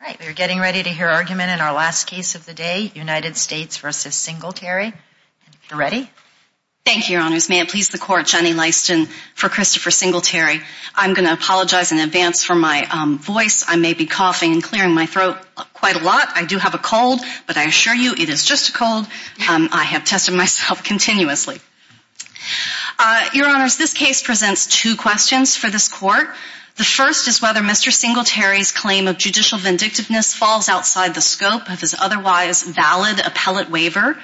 All right, we are getting ready to hear argument in our last case of the day, United States v. Singletary. Ready? Thank you, Your Honors. May it please the Court, Jenny Lyston for Christopher Singletary. I'm going to apologize in advance for my voice. I may be coughing and clearing my throat quite a lot. I do have a cold, but I assure you it is just a cold. I have tested myself continuously. Your Honors, this case presents two questions for this Court. The first is whether Mr. Singletary's claim of judicial vindictiveness falls outside the scope of his otherwise valid appellate waiver.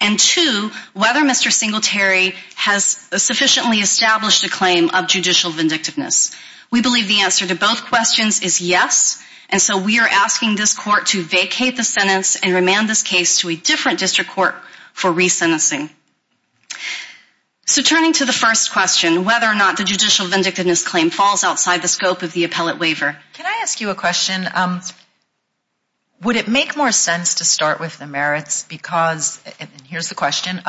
And two, whether Mr. Singletary has sufficiently established a claim of judicial vindictiveness. We believe the answer to both questions is yes. And so we are asking this Court to vacate the sentence and remand this case to a different district court for resentencing. So turning to the first question, whether or not the judicial vindictiveness claim falls outside the scope of the appellate waiver. Can I ask you a question? Would it make more sense to start with the merits because, and here's the question,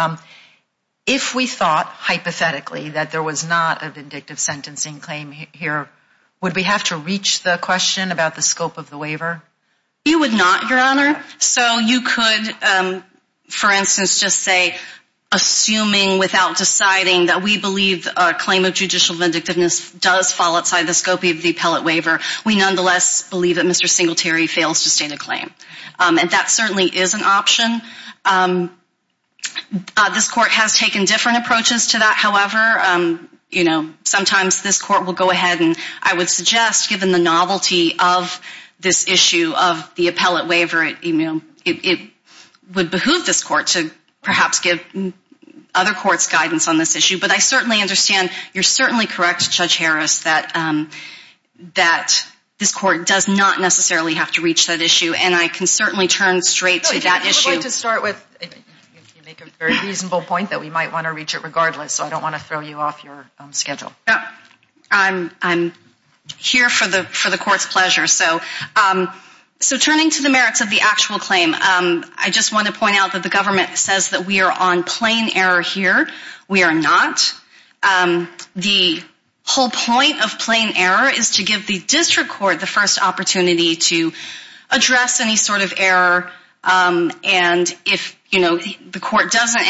if we thought hypothetically that there was not a vindictive sentencing claim here, would we have to reach the question about the scope of the waiver? We would not, Your Honor. So you could, for instance, just say, assuming without deciding that we believe a claim of judicial vindictiveness does fall outside the scope of the appellate waiver, we nonetheless believe that Mr. Singletary fails to state a claim. And that certainly is an option. This Court has taken different approaches to that. However, you know, sometimes this Court will go ahead and I would suggest, given the novelty of this issue of the appellate waiver, it would behoove this Court to perhaps give other courts guidance on this issue. But I certainly understand, you're certainly correct, Judge Harris, that this Court does not necessarily have to reach that issue. And I can certainly turn straight to that issue. You make a very reasonable point that we might want to reach it regardless, so I don't want to throw you off your schedule. I'm here for the Court's pleasure. So turning to the merits of the actual claim, I just want to point out that the government says that we are on plain error here. We are not. The whole point of plain error is to give the District Court the first opportunity to address any sort of error and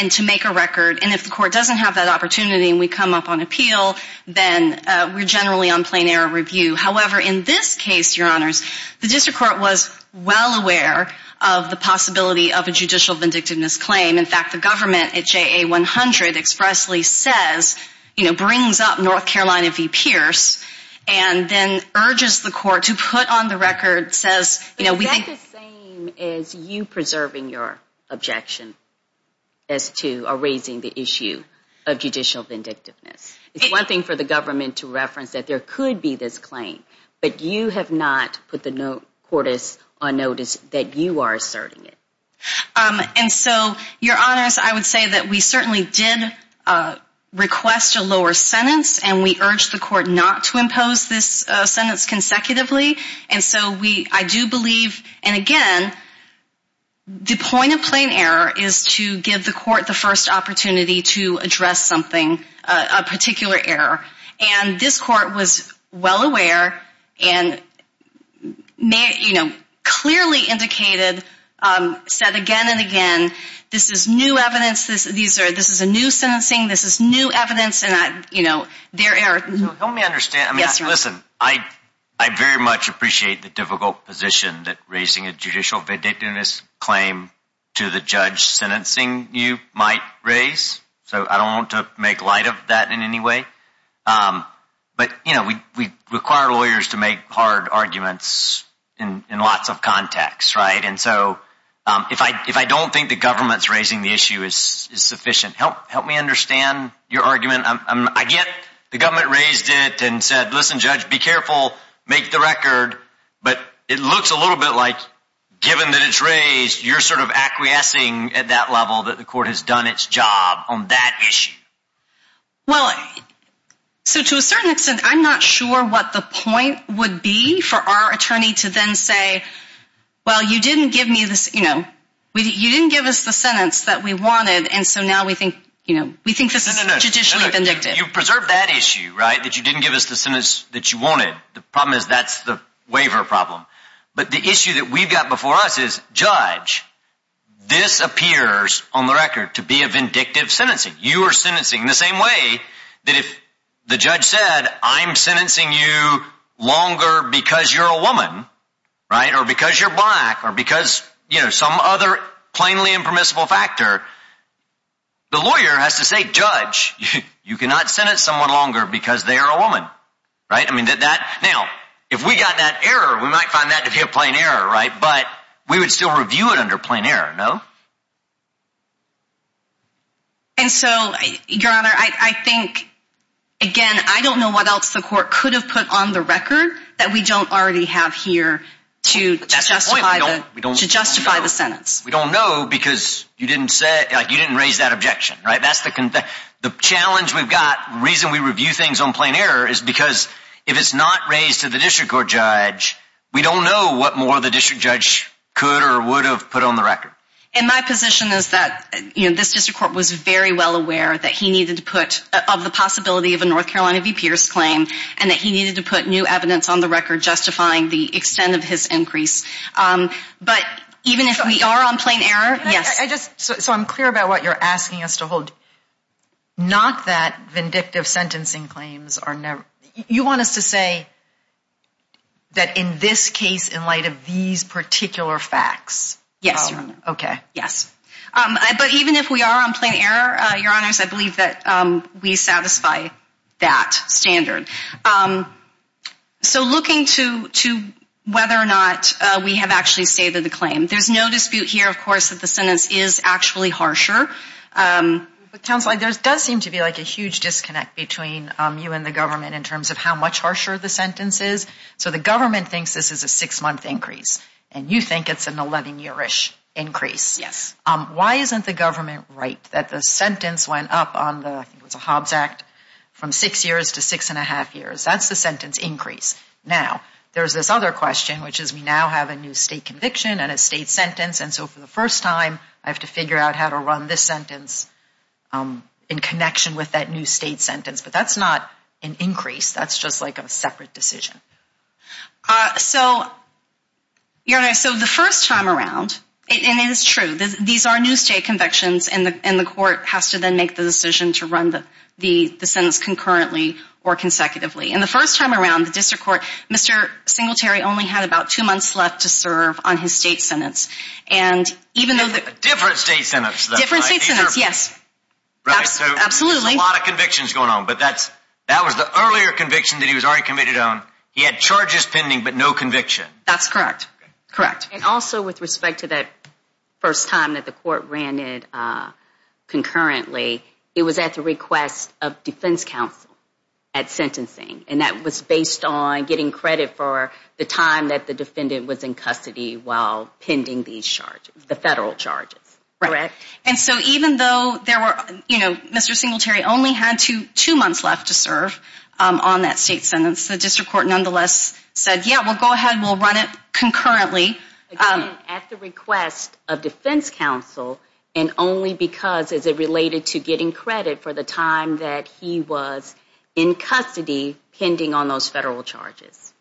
to make a record. And if the Court doesn't have that opportunity and we come up on appeal, then we're generally on plain error review. However, in this case, Your Honors, the District Court was well aware of the possibility of a judicial vindictiveness claim. In fact, the government at JA 100 expressly says, you know, brings up North Carolina v. Pierce and then urges the Court to put on the record, says, you know, we think... But is that the same as you preserving your objection as to or raising the issue of judicial vindictiveness? It's one thing for the government to reference that there could be this claim, but you have not put the court on notice that you are asserting it. And so, Your Honors, I would say that we certainly did request a lower sentence and we urged the Court not to impose this sentence consecutively. And so, I do believe, and again, the point of plain error is to give the Court the first opportunity to address something, a particular error. And this Court was well aware and, you know, clearly indicated, said again and again, this is new evidence, this is a new sentencing, this is new evidence and, you know, there are... So, help me understand. Yes, Your Honor. Listen, I very much appreciate the difficult position that raising a judicial vindictiveness claim to the judge sentencing you might raise. So, I don't want to make light of that in any way. But, you know, we require lawyers to make hard arguments in lots of contexts, right? And so, if I don't think the government's raising the issue is sufficient, help me understand your argument. Again, the government raised it and said, listen, judge, be careful, make the record. But it looks a little bit like, given that it's raised, you're sort of acquiescing at that level that the Court has done its job on that issue. Well, so to a certain extent, I'm not sure what the point would be for our attorney to then say, well, you didn't give me this, you know, you didn't give us the sentence that we wanted and so now we think, you know, we think this is a judicially vindictive. You preserved that issue, right? That you didn't give us the sentence that you wanted. The problem is that's the waiver problem. But the issue that we've got before us is, judge, this appears on the record to be a vindictive sentencing. You are sentencing the same way that if the judge said, I'm sentencing you longer because you're a woman, right, or because you're black or because, you know, some other plainly impermissible factor, the lawyer has to say, judge, you cannot sentence someone longer because they are a woman, right? Now, if we got that error, we might find that to be a plain error, right? But we would still review it under plain error, no? And so, Your Honor, I think, again, I don't know what else the Court could have put on the record that we don't already have here to justify the sentence. We don't know because you didn't raise that objection, right? The challenge we've got, the reason we review things on plain error is because if it's not raised to the district court judge, we don't know what more the district judge could or would have put on the record. And my position is that, you know, this district court was very well aware that he needed to put, of the possibility of a North Carolina v. Pierce claim and that he needed to put new evidence on the record justifying the extent of his increase. But even if we are on plain error, yes. So I'm clear about what you're asking us to hold. Not that vindictive sentencing claims are never, you want us to say that in this case, in light of these particular facts. Yes, Your Honor. Okay. Yes. But even if we are on plain error, Your Honors, I believe that we satisfy that standard. So looking to whether or not we have actually stated the claim. There's no dispute here, of course, that the sentence is actually harsher. But, Counselor, there does seem to be like a huge disconnect between you and the government in terms of how much harsher the sentence is. So the government thinks this is a six-month increase, and you think it's an 11-year-ish increase. Yes. Why isn't the government right that the sentence went up on the Hobbs Act from six years to six and a half years? That's the sentence increase. Now, there's this other question, which is we now have a new state conviction and a state sentence, and so for the first time I have to figure out how to run this sentence in connection with that new state sentence. But that's not an increase. That's just like a separate decision. So, Your Honor, so the first time around, and it is true, these are new state convictions, and the court has to then make the decision to run the sentence concurrently or consecutively. And the first time around, the district court, Mr. Singletary only had about two months left to serve on his state sentence. And even though... Different state sentence, though, right? Different state sentence, yes. Right. Absolutely. So there's a lot of convictions going on, but that was the earlier conviction that he was already committed on. He had charges pending but no conviction. That's correct. Correct. And also with respect to that first time that the court ran it concurrently, it was at the request of defense counsel at sentencing, and that was based on getting credit for the time that the defendant was in custody while pending these charges, the federal charges. Correct. And so even though there were, you know, Mr. Singletary only had two months left to serve on that state sentence, the district court nonetheless said, yeah, well, go ahead, we'll run it concurrently. Again, at the request of defense counsel, and only because as it related to getting credit for the time that he was in custody pending on those federal charges.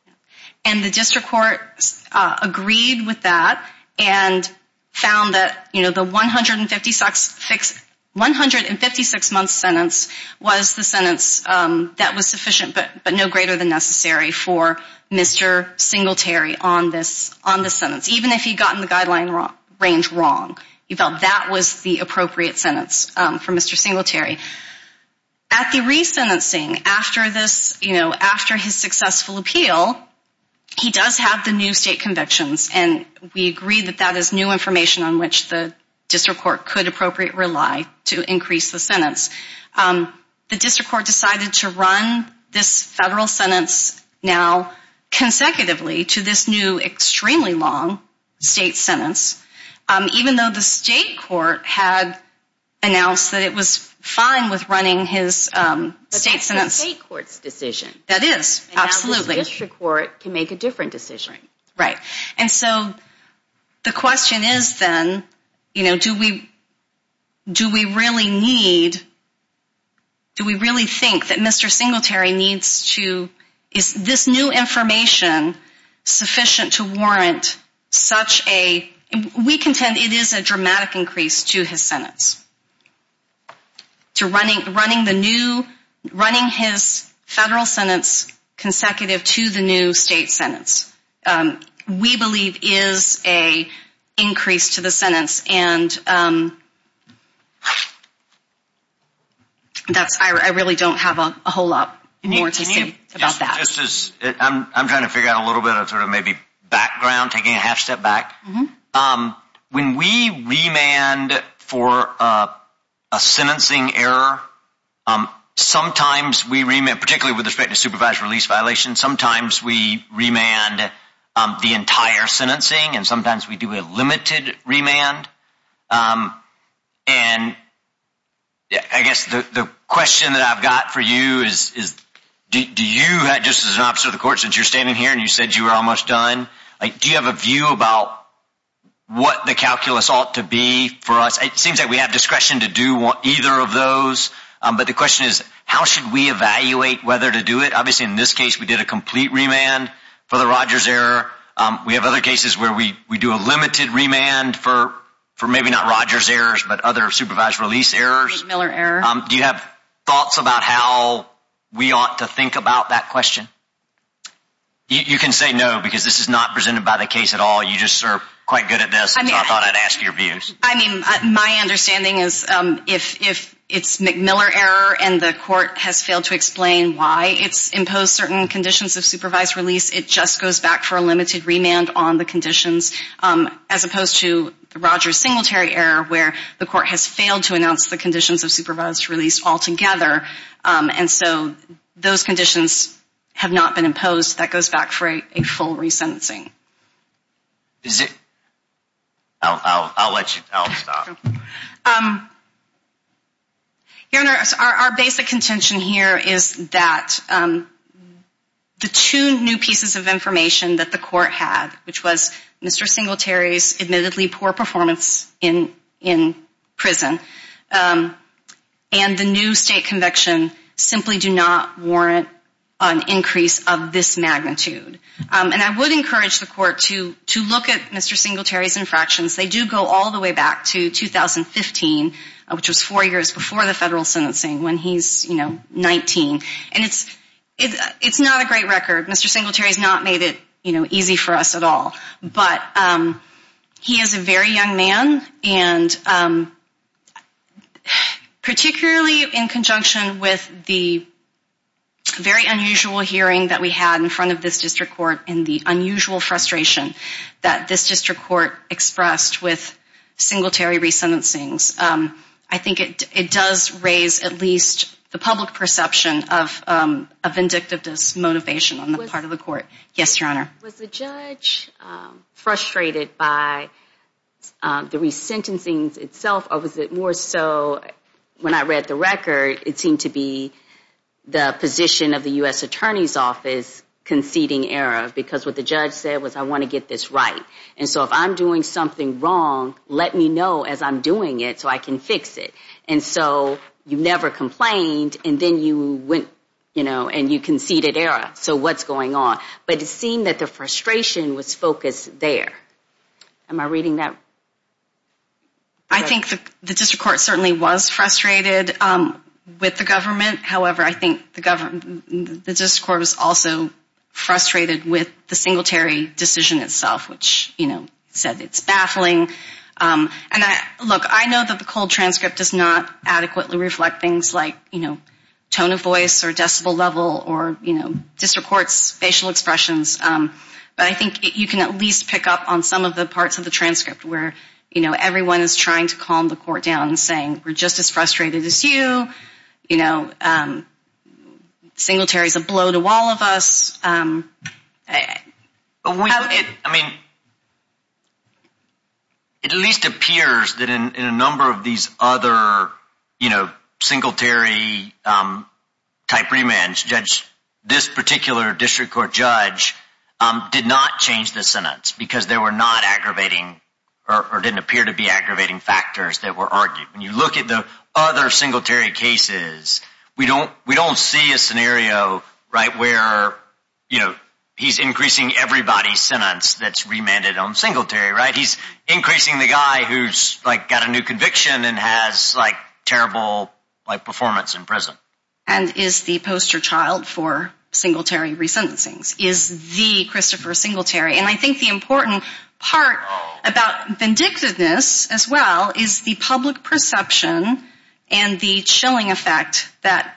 And the district court agreed with that and found that, you know, the 156-month sentence was the sentence that was sufficient but no greater than necessary for Mr. Singletary on this sentence, even if he'd gotten the guideline range wrong. He felt that was the appropriate sentence for Mr. Singletary. At the resentencing, after this, you know, after his successful appeal, he does have the new state convictions, and we agree that that is new information on which the district court could appropriately rely to increase the sentence. The district court decided to run this federal sentence now consecutively to this new extremely long state sentence, even though the state court had announced that it was fine with running his state sentence. But that's the state court's decision. That is, absolutely. And now the district court can make a different decision. Right. And so the question is then, you know, do we really need, do we really think that Mr. Singletary needs to, is this new information sufficient to warrant such a, we contend it is a dramatic increase to his sentence, to running the new, running his federal sentence consecutive to the new state sentence, we believe is a increase to the sentence. And that's, I really don't have a whole lot more to say about that. I'm trying to figure out a little bit of sort of maybe background, taking a half step back. When we remand for a sentencing error, sometimes we remand, particularly with respect to supervised release violation, sometimes we remand the entire sentencing and sometimes we do a limited remand. And I guess the question that I've got for you is, do you, just as an officer of the court, since you're standing here and you said you were almost done, do you have a view about what the calculus ought to be for us? It seems like we have discretion to do either of those. But the question is, how should we evaluate whether to do it? Obviously, in this case, we did a complete remand for the Rogers error. We have other cases where we do a limited remand for maybe not Rogers errors, but other supervised release errors. Miller error. Do you have thoughts about how we ought to think about that question? You can say no, because this is not presented by the case at all. You just are quite good at this, so I thought I'd ask your views. I mean, my understanding is if it's McMiller error and the court has failed to explain why it's imposed certain conditions of supervised release, it just goes back for a limited remand on the conditions, as opposed to the Rogers Singletary error, where the court has failed to announce the conditions of supervised release altogether. And so those conditions have not been imposed. That goes back for a full resentencing. Is it? I'll let you. I'll stop. Your Honor, our basic contention here is that the two new pieces of information that the court had, which was Mr. Singletary's admittedly poor performance in prison, and the new state conviction simply do not warrant an increase of this magnitude. And I would encourage the court to look at Mr. Singletary's infractions. They do go all the way back to 2015, which was four years before the federal sentencing, when he's 19. And it's not a great record. Mr. Singletary has not made it, you know, easy for us at all. But he is a very young man, and particularly in conjunction with the very unusual hearing that we had in front of this district court and the unusual frustration that this district court expressed with Singletary resentencings, I think it does raise at least the public perception of a vindictive dismotivation on the part of the court. Yes, Your Honor. Was the judge frustrated by the resentencings itself, or was it more so, when I read the record, it seemed to be the position of the U.S. Attorney's Office conceding error, because what the judge said was, I want to get this right. And so if I'm doing something wrong, let me know as I'm doing it so I can fix it. And so you never complained, and then you went, you know, and you conceded error. So what's going on? But it seemed that the frustration was focused there. Am I reading that right? I think the district court certainly was frustrated with the government. However, I think the district court was also frustrated with the Singletary decision itself, which, you know, said it's baffling. And, look, I know that the cold transcript does not adequately reflect things like, you know, tone of voice or decibel level or, you know, district court's facial expressions. But I think you can at least pick up on some of the parts of the transcript where, you know, everyone is trying to calm the court down and saying, we're just as frustrated as you. You know, Singletary is a blow to all of us. I mean, it at least appears that in a number of these other, you know, Singletary type remands, Judge, this particular district court judge did not change the sentence because they were not aggravating or didn't appear to be aggravating factors that were argued. When you look at the other Singletary cases, we don't see a scenario, right, where, you know, he's increasing everybody's sentence that's remanded on Singletary, right? He's increasing the guy who's, like, got a new conviction and has, like, terrible, like, performance in prison. And is the poster child for Singletary resentencings. Is the Christopher Singletary. And I think the important part about vindictiveness as well is the public perception and the chilling effect that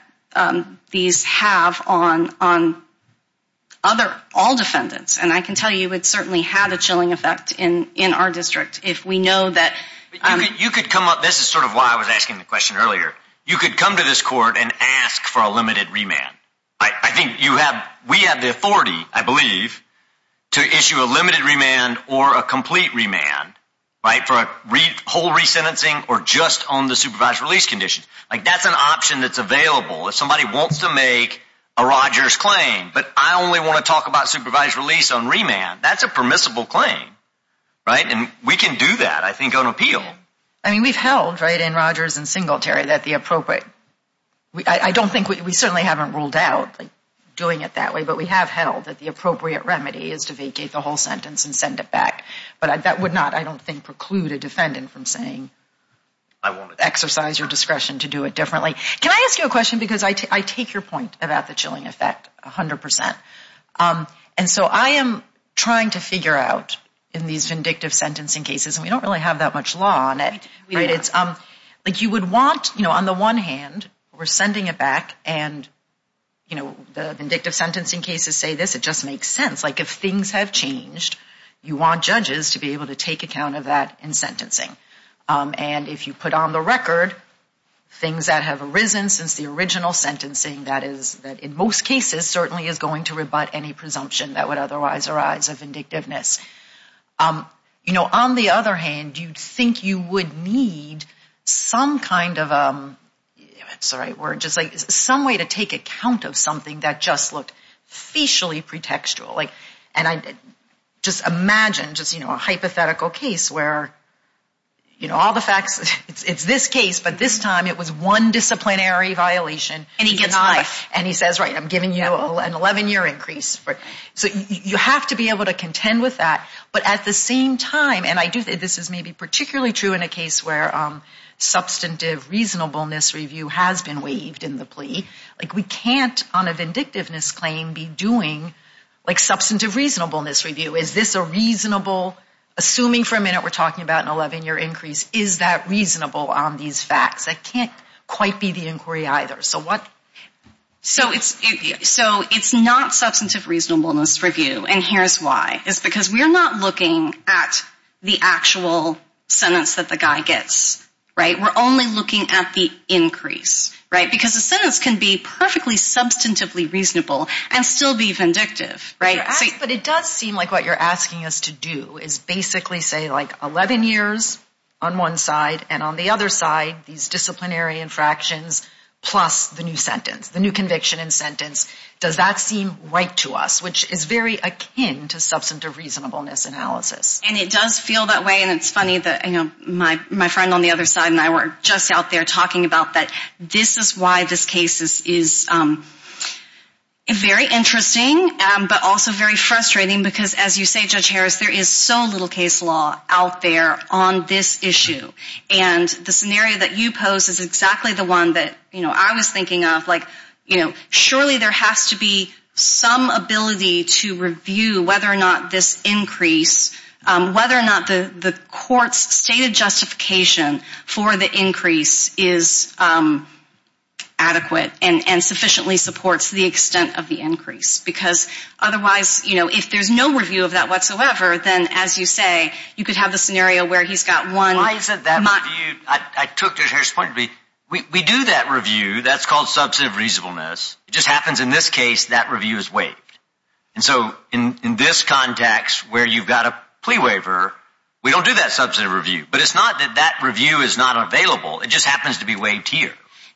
these have on other, all defendants. And I can tell you it certainly had a chilling effect in our district if we know that. You could come up, this is sort of why I was asking the question earlier. You could come to this court and ask for a limited remand. I think you have, we have the authority, I believe, to issue a limited remand or a complete remand, right, for a whole resentencing or just on the supervised release conditions. Like, that's an option that's available. If somebody wants to make a Rogers claim, but I only want to talk about supervised release on remand, that's a permissible claim, right? And we can do that, I think, on appeal. I mean, we've held, right, in Rogers and Singletary that the appropriate, I don't think, we certainly haven't ruled out doing it that way, but we have held that the appropriate remedy is to vacate the whole sentence and send it back. But that would not, I don't think, preclude a defendant from saying exercise your discretion to do it differently. Can I ask you a question? Because I take your point about the chilling effect 100%. And so I am trying to figure out in these vindictive sentencing cases, and we don't really have that much law on it. Like, you would want, you know, on the one hand, we're sending it back, and, you know, the vindictive sentencing cases say this, it just makes sense. Like, if things have changed, you want judges to be able to take account of that in sentencing. And if you put on the record things that have arisen since the original sentencing, that is, in most cases, certainly is going to rebut any presumption that would otherwise arise of vindictiveness. You know, on the other hand, you'd think you would need some kind of a, sorry, word, just like some way to take account of something that just looked facially pretextual. Like, and I just imagine just, you know, a hypothetical case where, you know, all the facts, it's this case, but this time it was one disciplinary violation. And he gets high. And he says, right, I'm giving you an 11-year increase. So you have to be able to contend with that. But at the same time, and I do think this is maybe particularly true in a case where substantive reasonableness review has been waived in the plea. Like, we can't on a vindictiveness claim be doing, like, substantive reasonableness review. Is this a reasonable, assuming for a minute we're talking about an 11-year increase, is that reasonable on these facts? That can't quite be the inquiry either. So it's not substantive reasonableness review. And here's why. It's because we're not looking at the actual sentence that the guy gets. Right? We're only looking at the increase. Right? Because a sentence can be perfectly substantively reasonable and still be vindictive. But it does seem like what you're asking us to do is basically say, like, 11 years on one side and on the other side these disciplinary infractions plus the new sentence, the new conviction and sentence. Does that seem right to us? Which is very akin to substantive reasonableness analysis. And it does feel that way. And it's funny that, you know, my friend on the other side and I were just out there talking about that this is why this case is very interesting but also very frustrating because as you say, Judge Harris, there is so little case law out there on this issue. And the scenario that you pose is exactly the one that, you know, I was thinking of. Like, you know, surely there has to be some ability to review whether or not this increase, whether or not the court's stated justification for the increase is adequate and sufficiently supports the extent of the increase. Because otherwise, you know, if there's no review of that whatsoever, then as you say, you could have the scenario where he's got one. Why isn't that reviewed? I took Judge Harris' point. We do that review. That's called substantive reasonableness. It just happens in this case that review is waived. And so in this context where you've got a plea waiver, we don't do that substantive review. But it's not that that review is not available. It just happens to be waived here.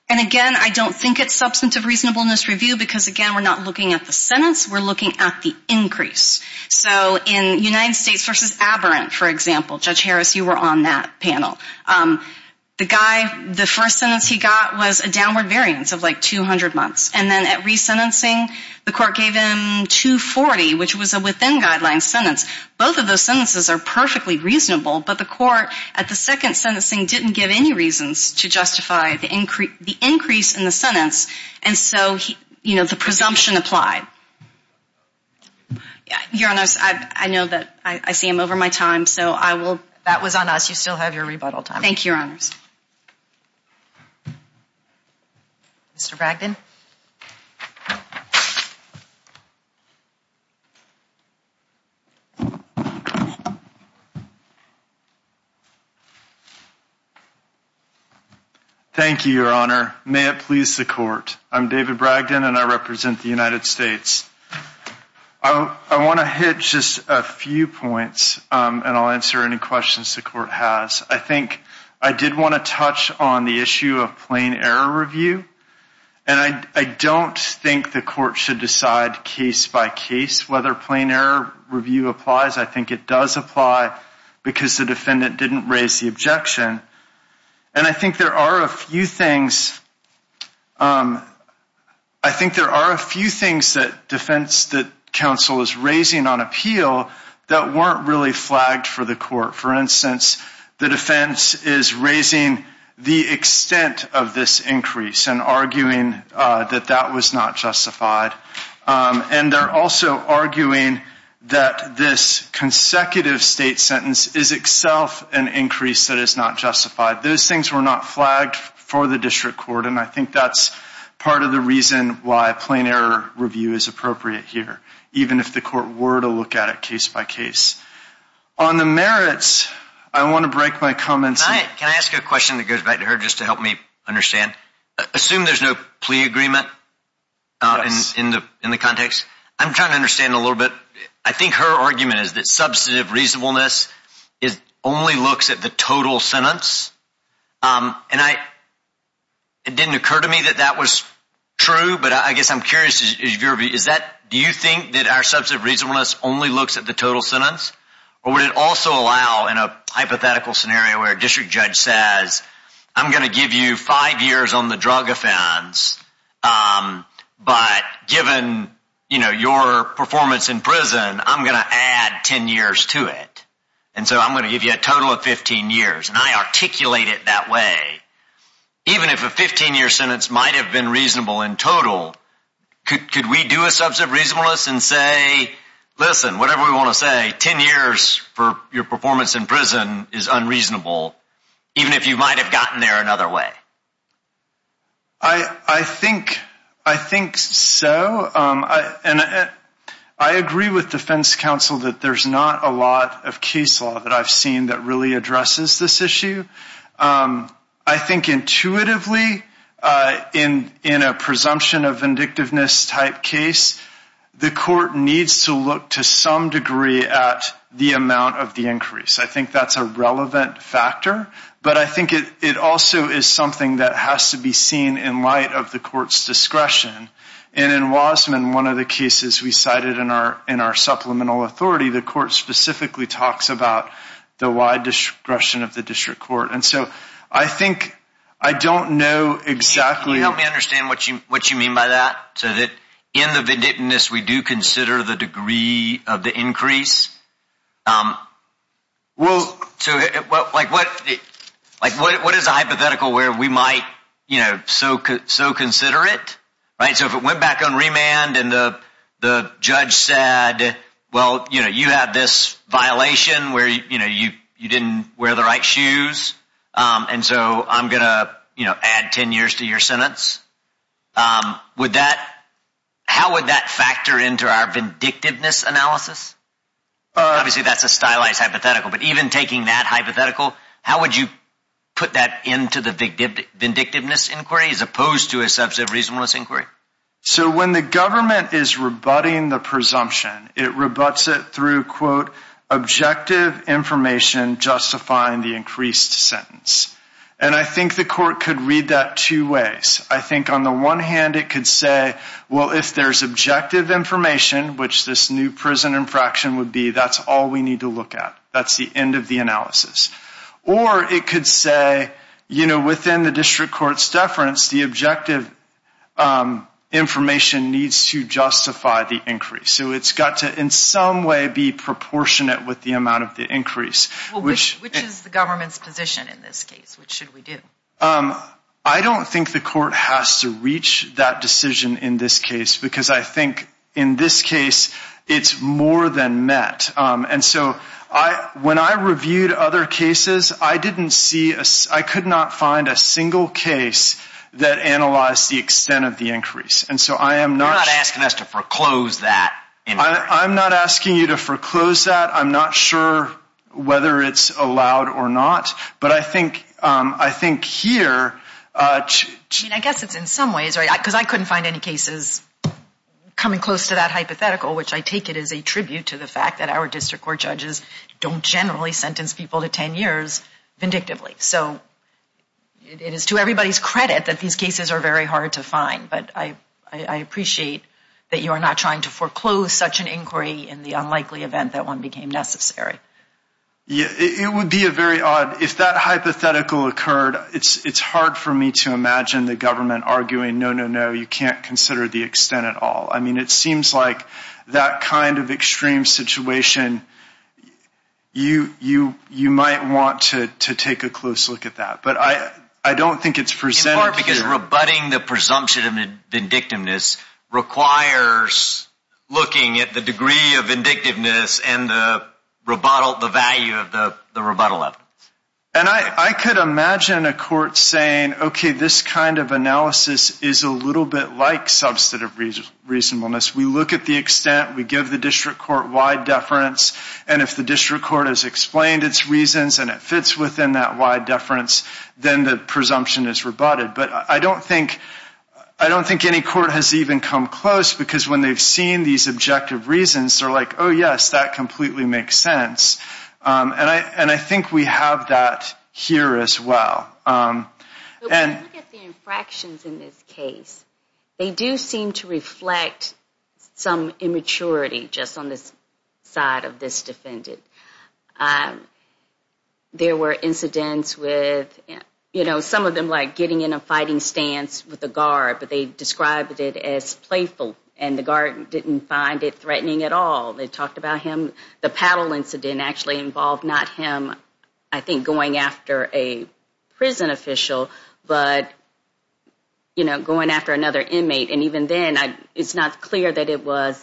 And again, I don't think it's substantive reasonableness review because, again, we're not looking at the sentence. We're looking at the increase. So in United States v. Aberrant, for example, Judge Harris, you were on that panel. The guy, the first sentence he got was a downward variance of like 200 months. And then at resentencing, the court gave him 240, which was a within-guidelines sentence. Both of those sentences are perfectly reasonable. But the court at the second sentencing didn't give any reasons to justify the increase in the sentence. And so, you know, the presumption applied. Your Honor, I know that I see I'm over my time, so I will. That was on us. You still have your rebuttal time. Thank you, Your Honors. Mr. Bragdon. May it please the court. I'm David Bragdon, and I represent the United States. I want to hit just a few points, and I'll answer any questions the court has. I think I did want to touch on the issue of plain error review. And I don't think the court should decide case by case whether plain error review applies. I think it does apply because the defendant didn't raise the objection. And I think there are a few things that defense that counsel is raising on appeal that weren't really flagged for the court. For instance, the defense is raising the extent of this increase and arguing that that was not justified. And they're also arguing that this consecutive state sentence is itself an increase that is not justified. Those things were not flagged for the district court, and I think that's part of the reason why plain error review is appropriate here, even if the court were to look at it case by case. On the merits, I want to break my comments. Can I ask a question that goes back to her just to help me understand? Assume there's no plea agreement in the context. I'm trying to understand a little bit. I think her argument is that substantive reasonableness only looks at the total sentence. And it didn't occur to me that that was true, but I guess I'm curious. Do you think that our substantive reasonableness only looks at the total sentence? Or would it also allow, in a hypothetical scenario where a district judge says, I'm going to give you five years on the drug offense, but given your performance in prison, I'm going to add 10 years to it. And so I'm going to give you a total of 15 years, and I articulate it that way. Even if a 15-year sentence might have been reasonable in total, could we do a substantive reasonableness and say, listen, whatever we want to say, 10 years for your performance in prison is unreasonable, even if you might have gotten there another way? I think so. And I agree with defense counsel that there's not a lot of case law that I've seen that really addresses this issue. I think intuitively, in a presumption of vindictiveness-type case, the court needs to look to some degree at the amount of the increase. I think that's a relevant factor, but I think it also is something that has to be seen in light of the court's discretion. And in Wasman, one of the cases we cited in our supplemental authority, the court specifically talks about the wide discretion of the district court. And so I think I don't know exactly- Can you help me understand what you mean by that? So that in the vindictiveness, we do consider the degree of the increase? Well- So what is a hypothetical where we might so consider it? So if it went back on remand and the judge said, well, you have this violation where you didn't wear the right shoes, and so I'm going to add 10 years to your sentence, how would that factor into our vindictiveness analysis? Obviously, that's a stylized hypothetical, but even taking that hypothetical, how would you put that into the vindictiveness inquiry as opposed to a substantive reasonableness inquiry? So when the government is rebutting the presumption, it rebutts it through, quote, objective information justifying the increased sentence. And I think the court could read that two ways. I think on the one hand, it could say, well, if there's objective information, which this new prison infraction would be, that's all we need to look at. That's the end of the analysis. Or it could say, you know, within the district court's deference, the objective information needs to justify the increase. So it's got to in some way be proportionate with the amount of the increase, which- Well, which is the government's position in this case? What should we do? I don't think the court has to reach that decision in this case because I think in this case, it's more than met. And so when I reviewed other cases, I didn't see-I could not find a single case that analyzed the extent of the increase. And so I am not- You're not asking us to foreclose that inquiry. I'm not asking you to foreclose that. I'm not sure whether it's allowed or not. But I think here- I mean, I guess it's in some ways, right, because I couldn't find any cases coming close to that hypothetical, which I take it as a tribute to the fact that our district court judges don't generally sentence people to 10 years vindictively. So it is to everybody's credit that these cases are very hard to find. But I appreciate that you are not trying to foreclose such an inquiry in the unlikely event that one became necessary. Yeah, it would be a very odd-if that hypothetical occurred, it's hard for me to imagine the government arguing, no, no, no, you can't consider the extent at all. I mean, it seems like that kind of extreme situation, you might want to take a close look at that. But I don't think it's presented here. In part because rebutting the presumption of vindictiveness requires looking at the degree of vindictiveness and the value of the rebuttal of it. And I could imagine a court saying, okay, this kind of analysis is a little bit like substantive reasonableness. We look at the extent, we give the district court wide deference, and if the district court has explained its reasons and it fits within that wide deference, then the presumption is rebutted. But I don't think any court has even come close because when they've seen these objective reasons, they're like, oh, yes, that completely makes sense. And I think we have that here as well. When we look at the infractions in this case, they do seem to reflect some immaturity just on this side of this defendant. There were incidents with, you know, some of them like getting in a fighting stance with the guard, but they described it as playful and the guard didn't find it threatening at all. They talked about him, the paddle incident actually involved not him, I think, going after a prison official, but, you know, going after another inmate. And even then, it's not clear that it was,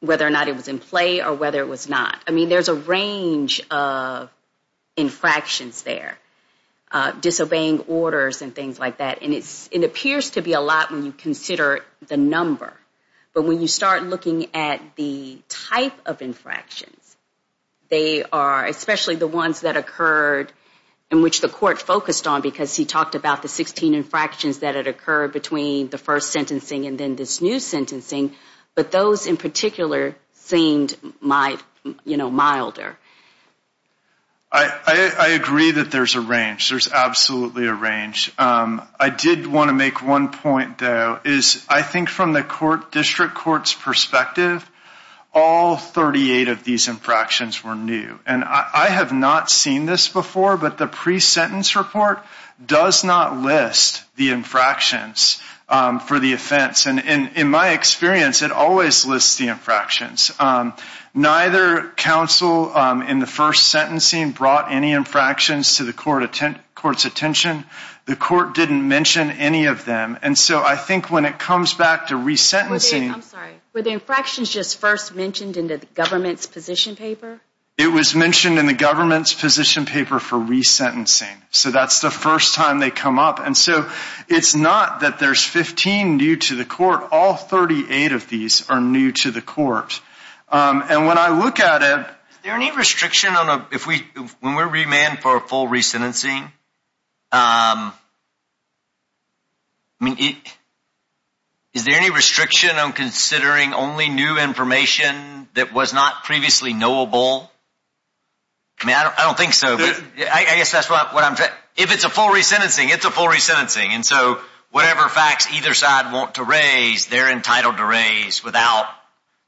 whether or not it was in play or whether it was not. I mean, there's a range of infractions there, disobeying orders and things like that. And it appears to be a lot when you consider the number. But when you start looking at the type of infractions, they are, especially the ones that occurred and which the court focused on because he talked about the 16 infractions that had occurred between the first sentencing and then this new sentencing, but those in particular seemed, you know, milder. I agree that there's a range. There's absolutely a range. I did want to make one point, though, is I think from the district court's perspective, all 38 of these infractions were new. And I have not seen this before, but the pre-sentence report does not list the infractions for the offense. And in my experience, it always lists the infractions. Neither counsel in the first sentencing brought any infractions to the court's attention. The court didn't mention any of them. And so I think when it comes back to resentencing. I'm sorry. Were the infractions just first mentioned in the government's position paper? It was mentioned in the government's position paper for resentencing. So that's the first time they come up. And so it's not that there's 15 new to the court. All 38 of these are new to the court. And when I look at it. Is there any restriction on a, if we, when we're remanded for a full resentencing, I mean, is there any restriction on considering only new information that was not previously knowable? I mean, I don't think so. I guess that's what I'm, if it's a full resentencing, it's a full resentencing. And so whatever facts either side want to raise, they're entitled to raise without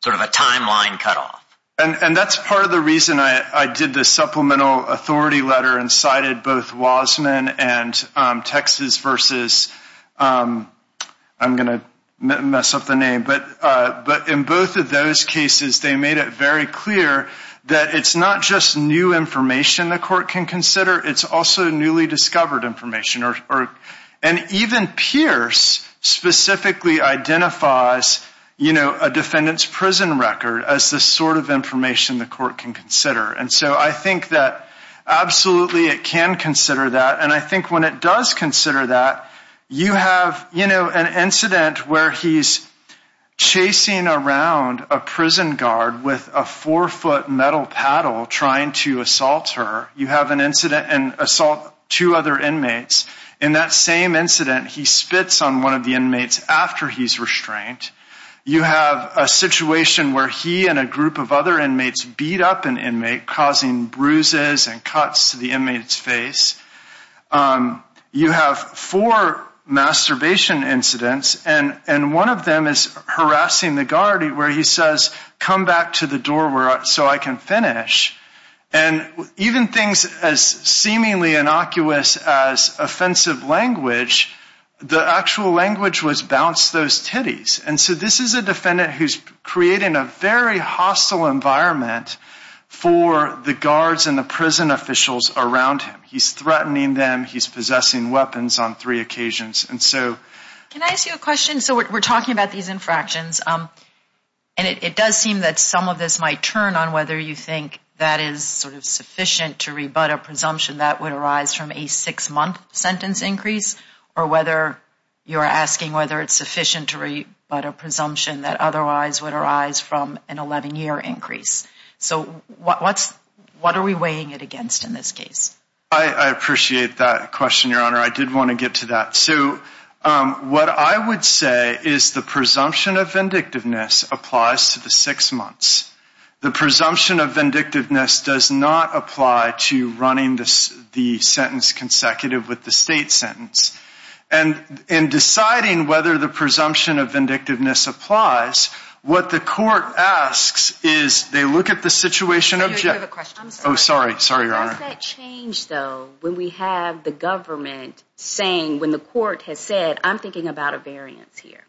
sort of a timeline cutoff. And that's part of the reason I did the supplemental authority letter and cited both Wasman and Texas versus, I'm going to mess up the name, but in both of those cases, they made it very clear that it's not just new information the court can consider. It's also newly discovered information. And even Pierce specifically identifies, you know, a defendant's prison record as the sort of information the court can consider. And so I think that absolutely it can consider that. And I think when it does consider that, you have, you know, an incident where he's chasing around a prison guard with a four-foot metal paddle trying to assault her. You have an incident and assault two other inmates. In that same incident, he spits on one of the inmates after he's restrained. You have a situation where he and a group of other inmates beat up an inmate, causing bruises and cuts to the inmate's face. You have four masturbation incidents. And one of them is harassing the guard where he says, come back to the door so I can finish. And even things as seemingly innocuous as offensive language, the actual language was, bounce those titties. And so this is a defendant who's creating a very hostile environment for the guards and the prison officials around him. He's threatening them. He's possessing weapons on three occasions. And so... Can I ask you a question? So we're talking about these infractions. And it does seem that some of this might turn on whether you think that is sort of sufficient to rebut a presumption that would arise from a six-month sentence increase, or whether you're asking whether it's sufficient to rebut a presumption that otherwise would arise from an 11-year increase. So what are we weighing it against in this case? I appreciate that question, Your Honor. I did want to get to that. So what I would say is the presumption of vindictiveness applies to the six months. The presumption of vindictiveness does not apply to running the sentence consecutive with the state sentence. And in deciding whether the presumption of vindictiveness applies, what the court asks is they look at the situation... Oh, sorry. Sorry, Your Honor. Does that change, though, when we have the government saying, when the court has said, I'm thinking about a variance here.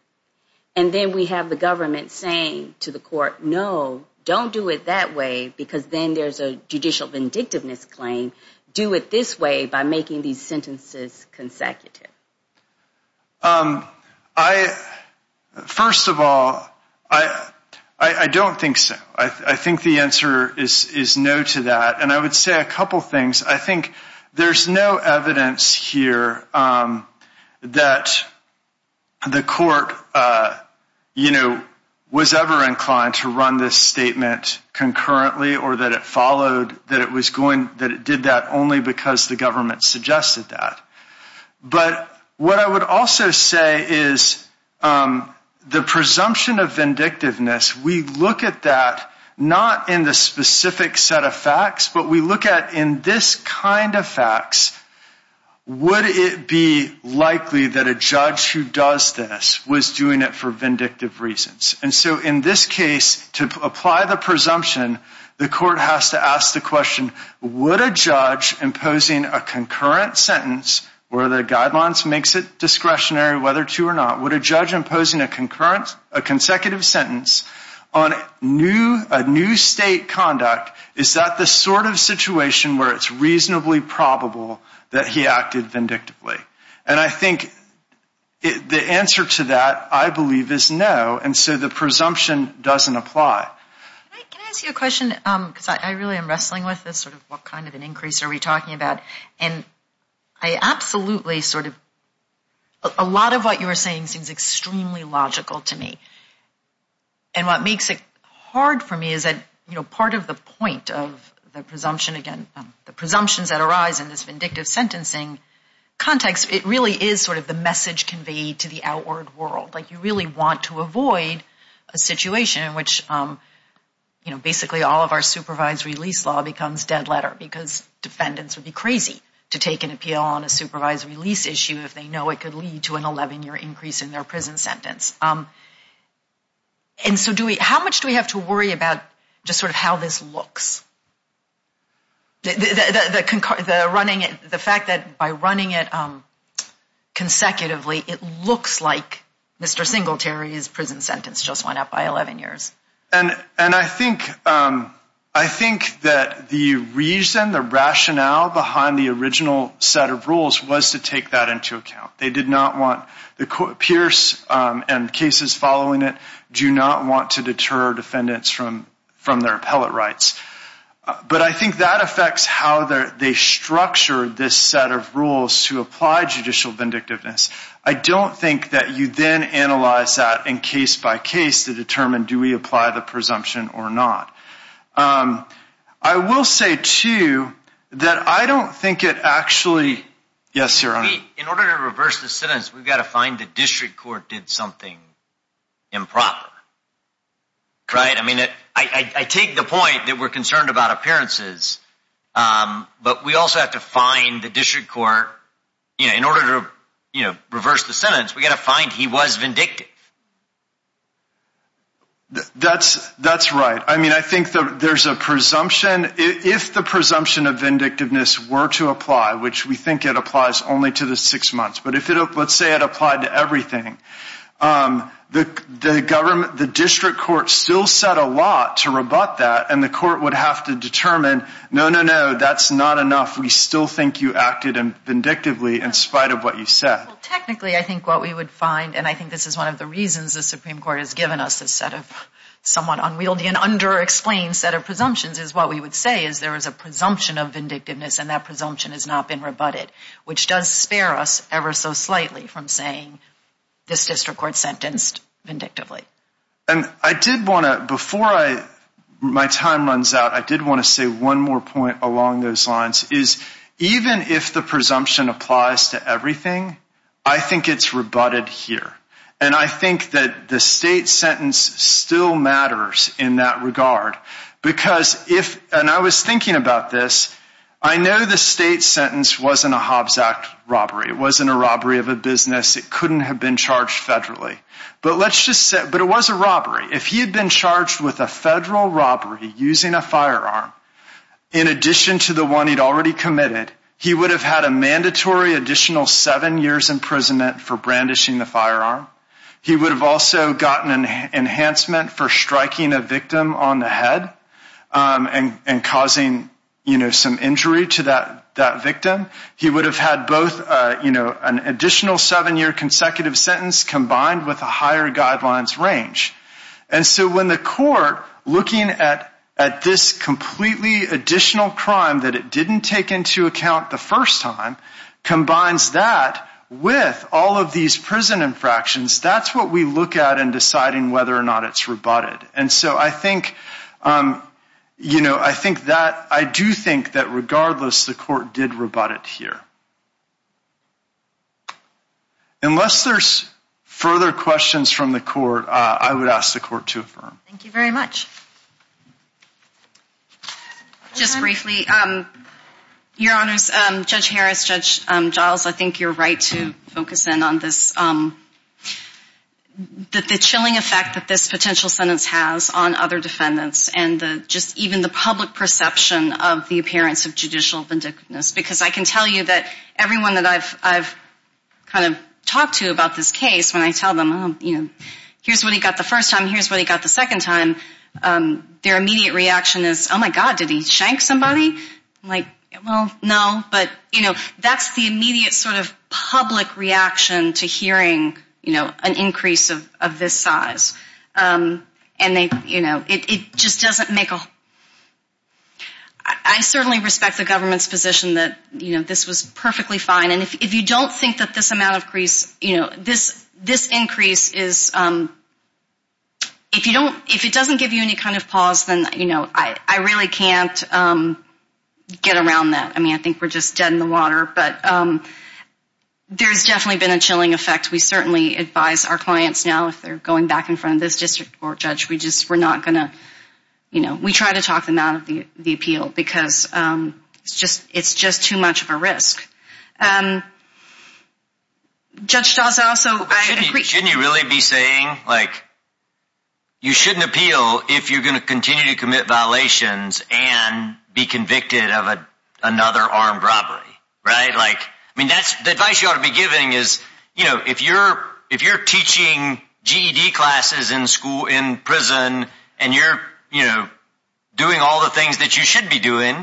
And then we have the government saying to the court, no, don't do it that way because then there's a judicial vindictiveness claim. Do it this way by making these sentences consecutive. First of all, I don't think so. I think the answer is no to that. And I would say a couple things. I think there's no evidence here that the court, you know, was ever inclined to run this statement concurrently or that it followed, that it did that only because the government suggested that. But what I would also say is the presumption of vindictiveness, we look at that not in the specific set of facts, but we look at in this kind of facts, would it be likely that a judge who does this was doing it for vindictive reasons? And so in this case, to apply the presumption, the court has to ask the question, would a judge imposing a concurrent sentence where the guidelines makes it discretionary whether to or not, would a judge imposing a consecutive sentence on a new state conduct, is that the sort of situation where it's reasonably probable that he acted vindictively? And I think the answer to that, I believe, is no. And so the presumption doesn't apply. Can I ask you a question? Because I really am wrestling with this, sort of what kind of an increase are we talking about? And I absolutely sort of, a lot of what you were saying seems extremely logical to me. And what makes it hard for me is that, you know, part of the point of the presumption, again, the presumptions that arise in this vindictive sentencing context, it really is sort of the message conveyed to the outward world. Like you really want to avoid a situation in which, you know, basically all of our supervised release law becomes dead letter because defendants would be crazy to take an appeal on a supervised release issue if they know it could lead to an 11-year increase in their prison sentence. And so how much do we have to worry about just sort of how this looks? The fact that by running it consecutively, it looks like Mr. Singletary's prison sentence just went up by 11 years. And I think that the reason, the rationale behind the original set of rules was to take that into account. They did not want, Pierce and cases following it, do not want to deter defendants from their appellate rights. But I think that affects how they structure this set of rules to apply judicial vindictiveness. I don't think that you then analyze that in case by case to determine do we apply the presumption or not. I will say, too, that I don't think it actually... Yes, Your Honor. In order to reverse the sentence, we've got to find the district court did something improper. Right? I mean, I take the point that we're concerned about appearances, but we also have to find the district court. In order to reverse the sentence, we've got to find he was vindictive. That's right. I mean, I think there's a presumption. If the presumption of vindictiveness were to apply, which we think it applies only to the six months, but let's say it applied to everything, the district court still set a lot to rebut that, and the court would have to determine, no, no, no, that's not enough. We still think you acted vindictively in spite of what you said. Technically, I think what we would find, and I think this is one of the reasons the Supreme Court has given us this somewhat unwieldy and underexplained set of presumptions, is what we would say is there is a presumption of vindictiveness, and that presumption has not been rebutted, which does spare us ever so slightly from saying this district court sentenced vindictively. Before my time runs out, I did want to say one more point along those lines. Even if the presumption applies to everything, I think it's rebutted here, and I think that the state sentence still matters in that regard, because if, and I was thinking about this, I know the state sentence wasn't a Hobbs Act robbery. It wasn't a robbery of a business. It couldn't have been charged federally, but let's just say, but it was a robbery. If he had been charged with a federal robbery using a firearm, in addition to the one he'd already committed, he would have had a mandatory additional seven years imprisonment for brandishing the firearm. He would have also gotten an enhancement for striking a victim on the head and causing some injury to that victim. He would have had both an additional seven-year consecutive sentence combined with a higher guidelines range. And so when the court, looking at this completely additional crime that it didn't take into account the first time, combines that with all of these prison infractions, that's what we look at in deciding whether or not it's rebutted. And so I think that, I do think that regardless, the court did rebut it here. Unless there's further questions from the court, I would ask the court to affirm. Thank you very much. Just briefly, Your Honors, Judge Harris, Judge Giles, I think you're right to focus in on this, the chilling effect that this potential sentence has on other defendants and just even the public perception of the appearance of judicial vindictiveness. Because I can tell you that everyone that I've kind of talked to about this case, when I tell them, you know, here's what he got the first time, here's what he got the second time, their immediate reaction is, oh, my God, did he shank somebody? I'm like, well, no, but, you know, that's the immediate sort of public reaction to hearing, you know, an increase of this size. And they, you know, it just doesn't make a whole lot of sense. I certainly respect the government's position that, you know, this was perfectly fine. And if you don't think that this amount of crease, you know, this increase is, if you don't, if it doesn't give you any kind of pause, then, you know, I really can't get around that. I mean, I think we're just dead in the water. But there's definitely been a chilling effect. We certainly advise our clients now, if they're going back in front of this district court judge, we just, we're not going to, you know, we try to talk them out of the appeal because it's just too much of a risk. Judge Dawson, also, I agree. Shouldn't you really be saying, like, you shouldn't appeal if you're going to continue to commit violations and be convicted of another armed robbery, right? Like, I mean, that's the advice you ought to be giving is, you know, if you're teaching GED classes in school, in prison, and you're, you know, doing all the things that you should be doing,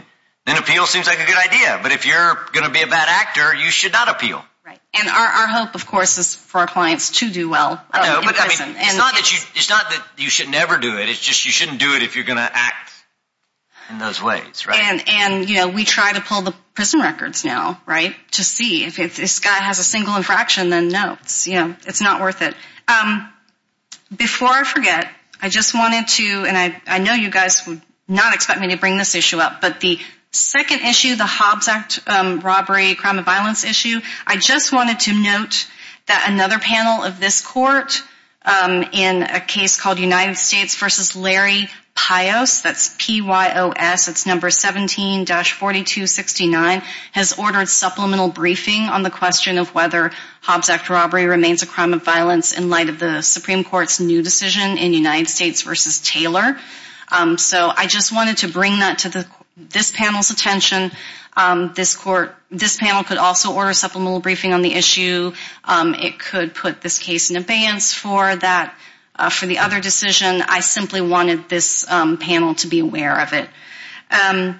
then appeal seems like a good idea. But if you're going to be a bad actor, you should not appeal. And our hope, of course, is for our clients to do well in prison. It's not that you should never do it. It's just you shouldn't do it if you're going to act in those ways, right? And, you know, we try to pull the prison records now, right, to see if this guy has a single infraction, then, no, it's not worth it. Before I forget, I just wanted to, and I know you guys would not expect me to bring this issue up, but the second issue, the Hobbs Act robbery crime and violence issue, I just wanted to note that another panel of this court, in a case called United States v. Larry Pios, that's P-Y-O-S, it's number 17-4269, has ordered supplemental briefing on the question of whether Hobbs Act robbery remains a crime of violence in light of the Supreme Court's new decision in United States v. Taylor. So I just wanted to bring that to this panel's attention. This panel could also order supplemental briefing on the issue. It could put this case in abeyance for the other decision. I simply wanted this panel to be aware of it. Let's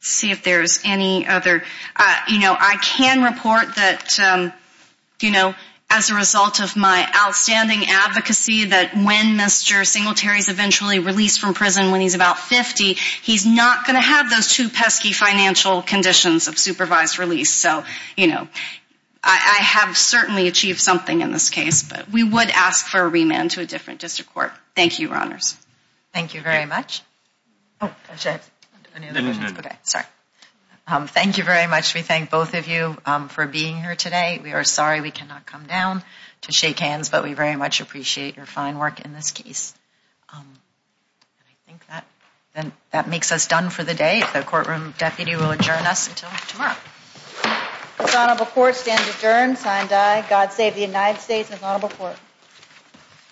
see if there's any other. You know, I can report that, you know, as a result of my outstanding advocacy, that when Mr. Singletary is eventually released from prison when he's about 50, he's not going to have those two pesky financial conditions of supervised release. So, you know, I have certainly achieved something in this case. But we would ask for a remand to a different district court. Thank you, Your Honors. Thank you very much. Thank you very much. We thank both of you for being here today. We are sorry we cannot come down to shake hands, but we very much appreciate your fine work in this case. I think that makes us done for the day. The courtroom deputy will adjourn us until tomorrow. This honorable court stands adjourned. Signed, aye. God save the United States. This honorable court.